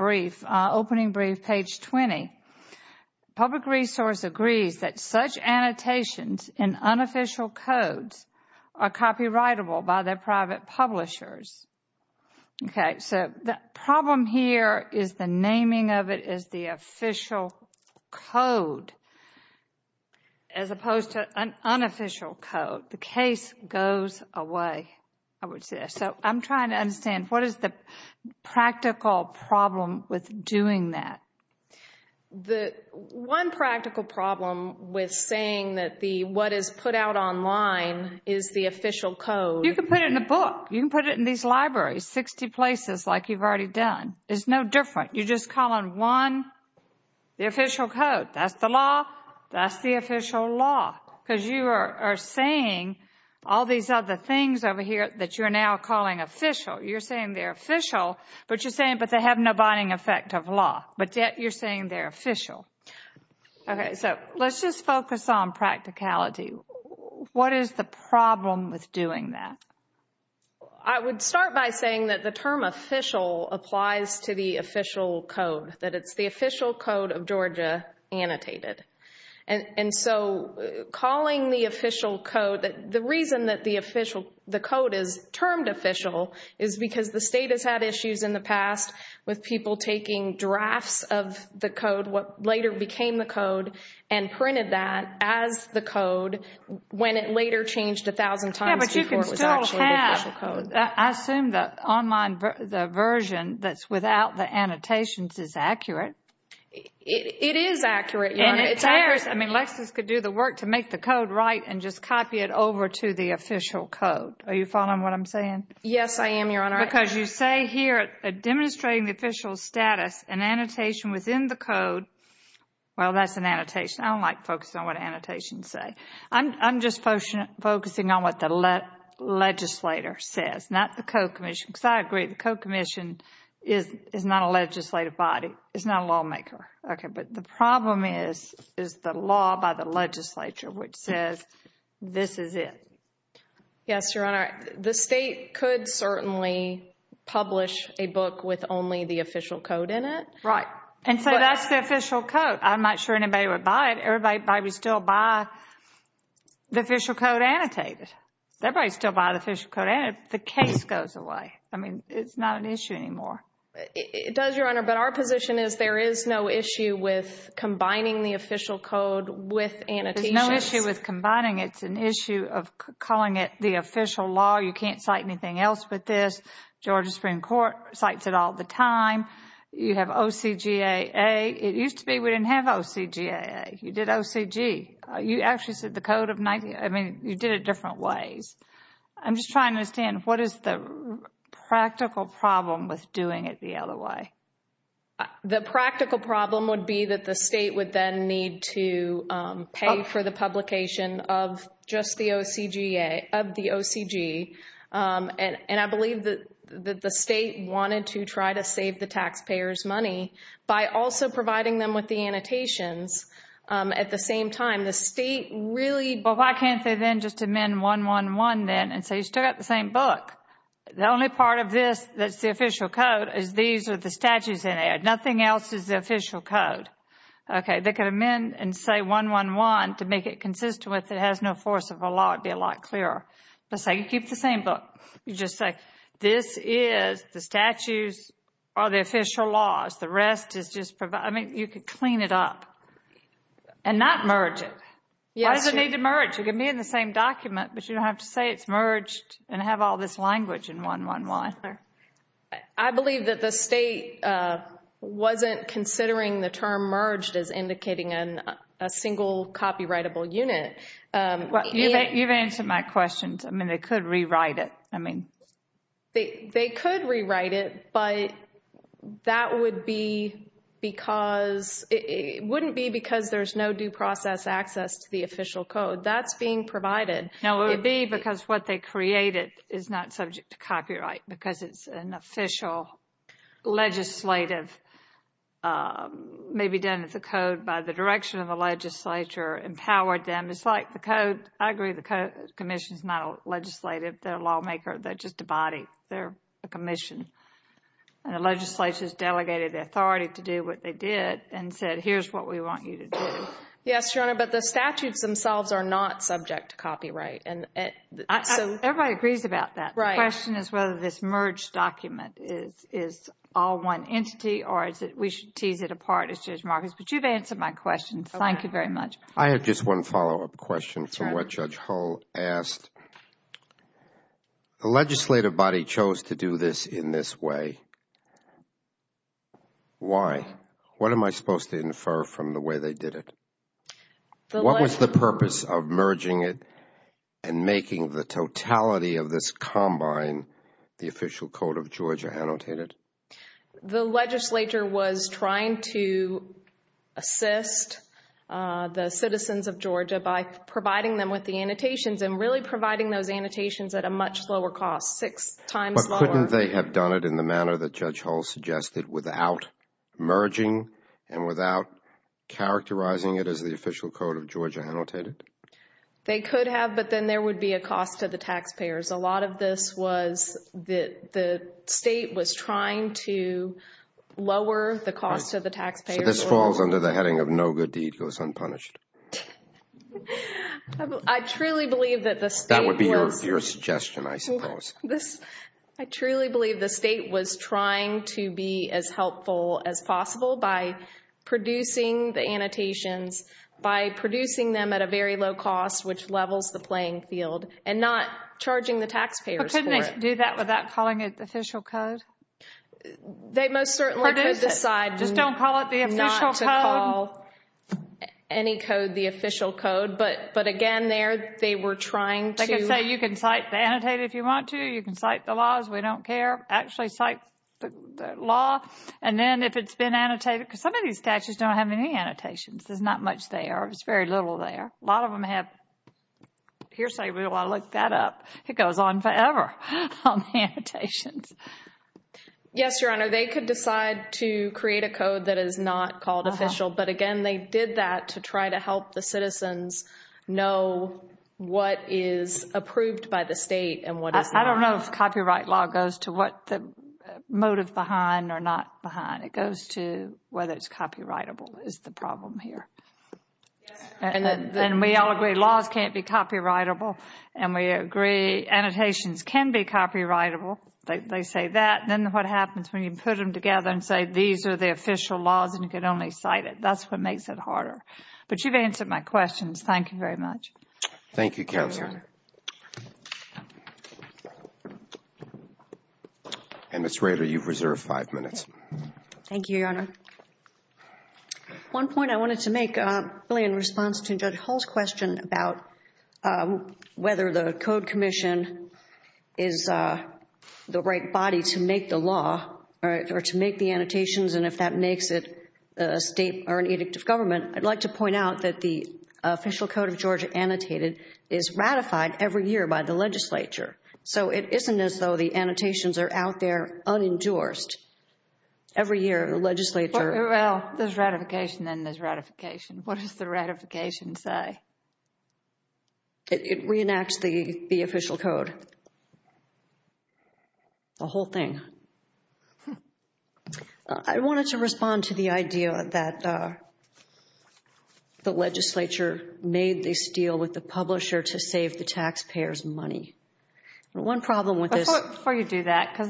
Opening brief, page 20. Public resource agrees that such annotations in unofficial codes are copyrightable by their private publishers. Okay, so the problem here is the naming of it is the official code as opposed to an unofficial code. The case goes away, I would say. So I'm trying to understand what is the practical problem with doing that? The one practical problem with saying that the what is put out online is the official code. You can put it in a book. You can put it in these libraries, 60 places like you've already done. It's no different. You're just calling one the official code. That's the law. That's the official law. Because you are saying all these other things over here that you're now calling official. You're saying they're official, but you're saying they have no binding effect of law. But yet you're saying they're official. Okay, so let's just focus on practicality. What is the problem with doing that? I would start by saying that the term official applies to the official code. That it's the official code of Georgia annotated. And so calling the official code the reason that the code is termed official is because the state has had issues in the past with people taking drafts of the code, what later became the code, and printed that as the code when it later changed a thousand times before it was actually the official code. I assume the online version that's without the annotations is accurate. It is accurate, Your Honor. Lexis could do the work to make the code right and just copy it over to the official code. Are you following what I'm saying? Yes, I am, Your Honor. Because you say here, demonstrating the official status, an annotation within the code. Well, that's an annotation. I don't like focusing on what annotations say. I'm just focusing on what the legislator says, not the co-commission. Because I agree, the co-commission is not a legislative body. It's not a lawmaker. Okay, but the problem is the law by the legislature which says this is it. Yes, Your Honor. The state could certainly publish a book with only the official code in it. Right. And so that's the official code. I'm not sure anybody would buy it. Everybody would still buy the official code annotated. Everybody would still buy the official code annotated. The case goes away. I mean, it's not an issue anymore. It does, Your Honor, but our position is there is no issue with combining the official code with annotations. There's no issue with combining it. It's an issue of calling it the official law. You can't cite anything else with this. Georgia Supreme Court cites it all the time. You have OCGAA. It used to be we didn't have OCGAA. You did OCG. You actually said the code of 19. I mean, you did it different ways. I'm just trying to understand, what is the practical problem with doing it the other way? The practical problem would be that the state would then need to pay for the publication of just the OCGAA, of the OCG. And I believe that the state wanted to try to save the taxpayers' money by also providing them with the annotations at the same time. The state really... Well, why can't they then just amend 111 then and say you still got the same book? The only part of this that's the official code is these are the statutes in there. Nothing else is the official code. Okay. They could amend and say 111 to make it consistent with it has no force of a law. It would be a lot clearer. Let's say you keep the same book. You just say this is the statutes are the official laws. The rest is just... I mean, you could clean it up and not merge it. Why does it need to merge? It could be in the same document, but you don't have to say it's merged and have all this language in 111. I believe that the state wasn't considering the term merged as indicating a single copyrightable unit. You've answered my question. I mean, they could rewrite it. They could rewrite it, but that wouldn't be because there's no due process access to the official code. That's being provided. No, it would be because what they created is not subject to copyright because it's an official legislative maybe done as a code by the direction of the legislature empowered them. It's like the code. I agree. The commission is not a legislative. They're a lawmaker. They're just a body. They're a commission. And the legislature has delegated the authority to do what they did and said, here's what we want you to do. Yes, Your Honor, but the statutes themselves are not subject to copyright. Everybody agrees about that. The question is whether this merged document is all one entity or we should tease it apart as Judge Marcus, but you've answered my question. Thank you very much. I have just one follow-up question from what Judge Hull asked. The legislative body chose to do this in this way. Why? What am I supposed to infer from the way they did it? What was the purpose of merging it and making the totality of this combine the official code of Georgia annotated? The legislature was trying to assist the citizens of Georgia by providing them with the annotations and really providing those annotations at a much lower cost, six times lower. But couldn't they have done it in the manner that Judge Hull suggested without merging and without characterizing it as the official code of Georgia annotated? They could have, but then there would be a cost to the taxpayers. A lot of this was that the state was trying to lower the cost to the taxpayers. So this falls under the heading of no good deed goes unpunished. I truly believe that the state was... That would be your suggestion, I suppose. I truly believe the state was trying to be as helpful as possible by producing the annotations, by producing them at a very low cost, which levels the playing field, and not charging the taxpayers for it. But couldn't they do that without calling it the official code? They most certainly could decide not to call any code the official code, but again, there they were trying to... They could say you can cite the annotated if you want to. You can cite the laws. We don't care. Actually cite the law. And then if it's been annotated, because some of these statutes don't have any annotations. There's not much there. There's very little there. A lot of them have... We don't want to look that up. It goes on forever. Yes, Your Honor. They could decide to create a code that is not called official, but again, they did that to try to help the citizens know what is approved by the state and what is not. I don't know if copyright law goes to what the motive behind or not behind. It goes to whether it's copyrightable is the problem here. And we all agree laws can't be copyrightable and we agree annotations can be copyrightable. They say that. Then what happens when you put them together and say these are the official laws and you can only cite it? That's what makes it harder. But you've answered my questions. Thank you very much. Thank you, Counselor. And Ms. Rader, you've reserved five minutes. Thank you, Your Honor. One point I wanted to make really in response to Judge Hull's question about whether the code commission is the right body to make the law or to make the annotations and if that makes it a state or an edict of government, I'd like to point out that the official code of Georgia annotated is ratified every year by the legislature. So it isn't as though the annotations are out there unendorsed. Every year the legislature... Well, there's ratification and there's ratification. What does the ratification say? It reenacts the official code. The whole thing. I wanted to respond to the idea that the legislature made this deal with the publisher to save the taxpayers money. One problem with this... Before you do that... This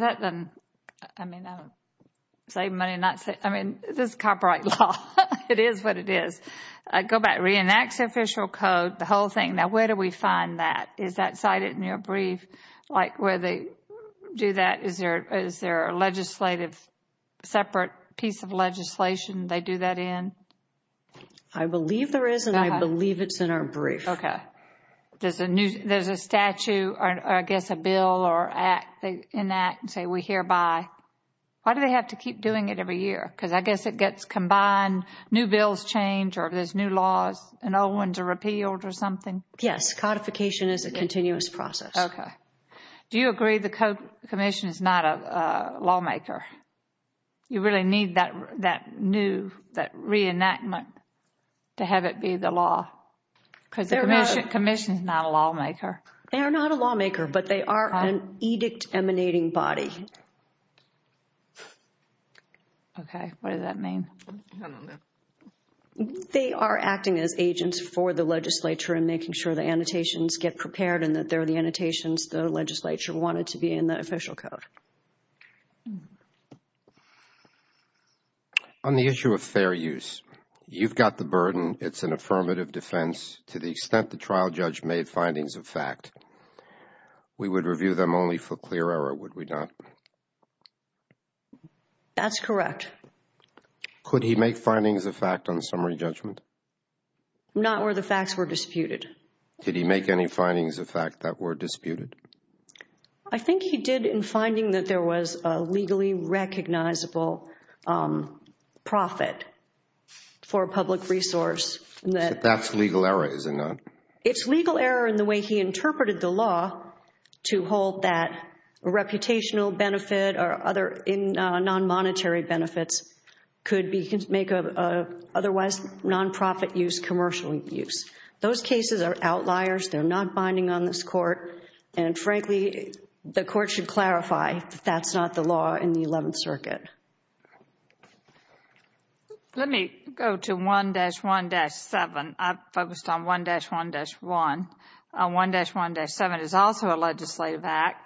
is copyright law. It is what it is. It reenacts the official code. The whole thing. Now where do we find that? Is that cited in your brief? Is there a separate piece of legislation they do that in? I believe there is and I believe it's in our brief. There's a statue or I guess a bill or act they enact and say we hereby... Why do they have to keep doing it every year? Because I guess it gets combined. New bills change or there's new laws and old ones are repealed or something. Yes, codification is a continuous process. Do you agree the commission is not a lawmaker? You really need that new, that reenactment to have it be the law? Because the commission is not a lawmaker. They are not a lawmaker, but they are an edict emanating body. Okay, what does that mean? They are acting as agents for the legislature and making sure the annotations get prepared and that they're the annotations the legislature wanted to be in the official code. On the issue of fair use, you've got the burden. It's an affirmative defense to the extent that the trial judge made findings of fact. We would review them only for clear error, would we not? That's correct. Could he make findings of fact on summary judgment? Not where the facts were disputed. Did he make any findings of fact that were disputed? I think he did in finding that there was a legally recognizable profit for a public resource. That's legal error, is it not? It's legal error in the way he interpreted the law to hold that reputational benefit or other non-monetary benefits could make otherwise non-profit use commercial use. Those cases are outliers. They're not binding on this court and frankly, the court should clarify that that's not the law in the Eleventh Circuit. Let me go to 1-1-7. I focused on 1-1-1. 1-1-7 is also a legislative act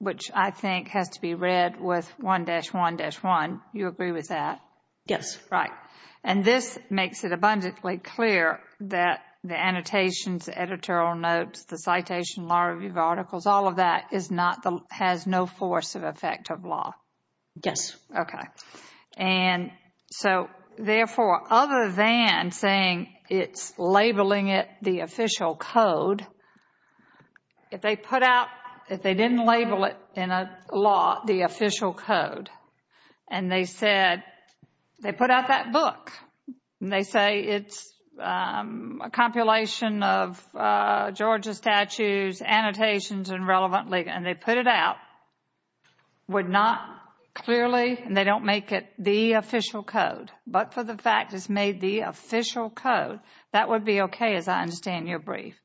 which I think has to be read with 1-1-1. You agree with that? Yes. Right. And this makes it abundantly clear that the annotations, the editorial notes, the citation, law review articles, all of that has no force of effect of law. Yes. Okay. Therefore, other than saying it's labeling it the official code, if they put out if they didn't label it in a law the official code and they said, they put out that book and they say it's a compilation of Georgia statues, annotations and relevant legal, and they put it out would not clearly, and they don't make it the official code, but for the fact it's made the official code that would be okay as I understand your brief.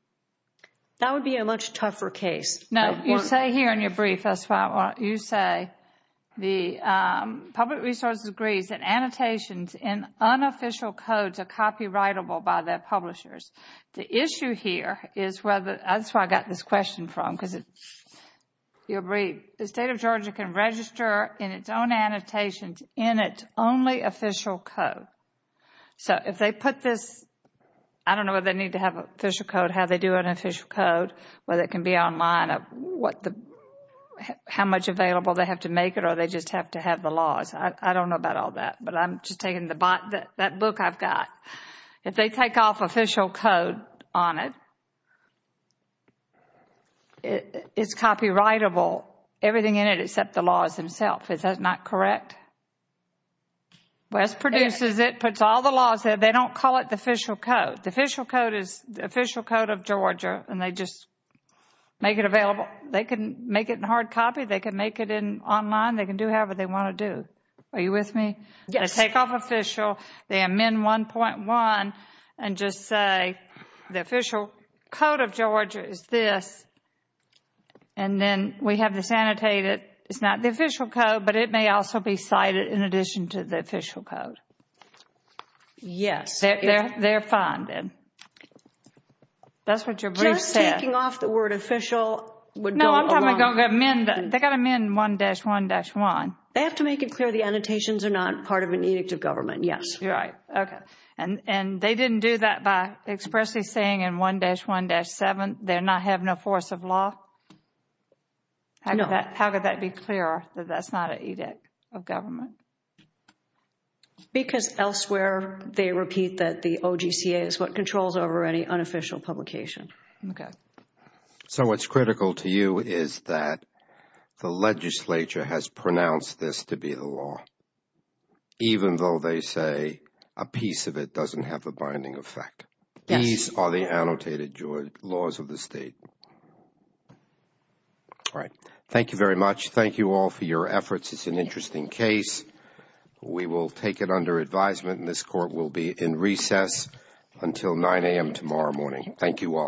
That would be a much tougher case. No. You say here in your brief, that's why I want you to say the public resources agrees that annotations in unofficial codes are copyrightable by their publishers. The issue here is whether, that's where I got this question from because your brief, the state of Georgia can register in its own annotations in its only official code. So if they put this, I don't know whether they need to have an official code how they do an official code, whether it can be online how much available they have to make it or they just have to have the laws I don't know about all that, but I'm just taking that book I've got if they take off official code on it it's copyrightable everything in it except the laws themselves. Is that not correct? West produces it, puts all the laws there, they don't call it the official code. The official code is the official code of Georgia and they just make it available. They can make it in hard copy they can make it online, they can do however they want to do. Are you with me? They take off official, they amend 1.1 and just say the official code of Georgia is this and then we have this annotated, it's not the official code but it may also be cited in addition to the official code. Yes. They're fine then. That's what your brief says. Just taking off the word official No, I'm talking about going to amend, they've got to amend 1-1-1. They have to make it clear the annotations are not part of an edict of government, yes. You're right. Okay. And they didn't do that by expressly saying in 1-1-7 they're not having a force of law? No. How could that be clear that that's not an edict of government? Because elsewhere they repeat that the OGCA is what controls over any unofficial publication. Okay. So what's critical to you is that the legislature has pronounced this to be the law even though they say a piece of it doesn't have a binding effect. Yes. These are the annotated laws of the state. All right. Thank you very much. Thank you all for your efforts. It's an interesting case. We will take it under advisement and this court will be in recess until 9 a.m. tomorrow morning. Thank you all.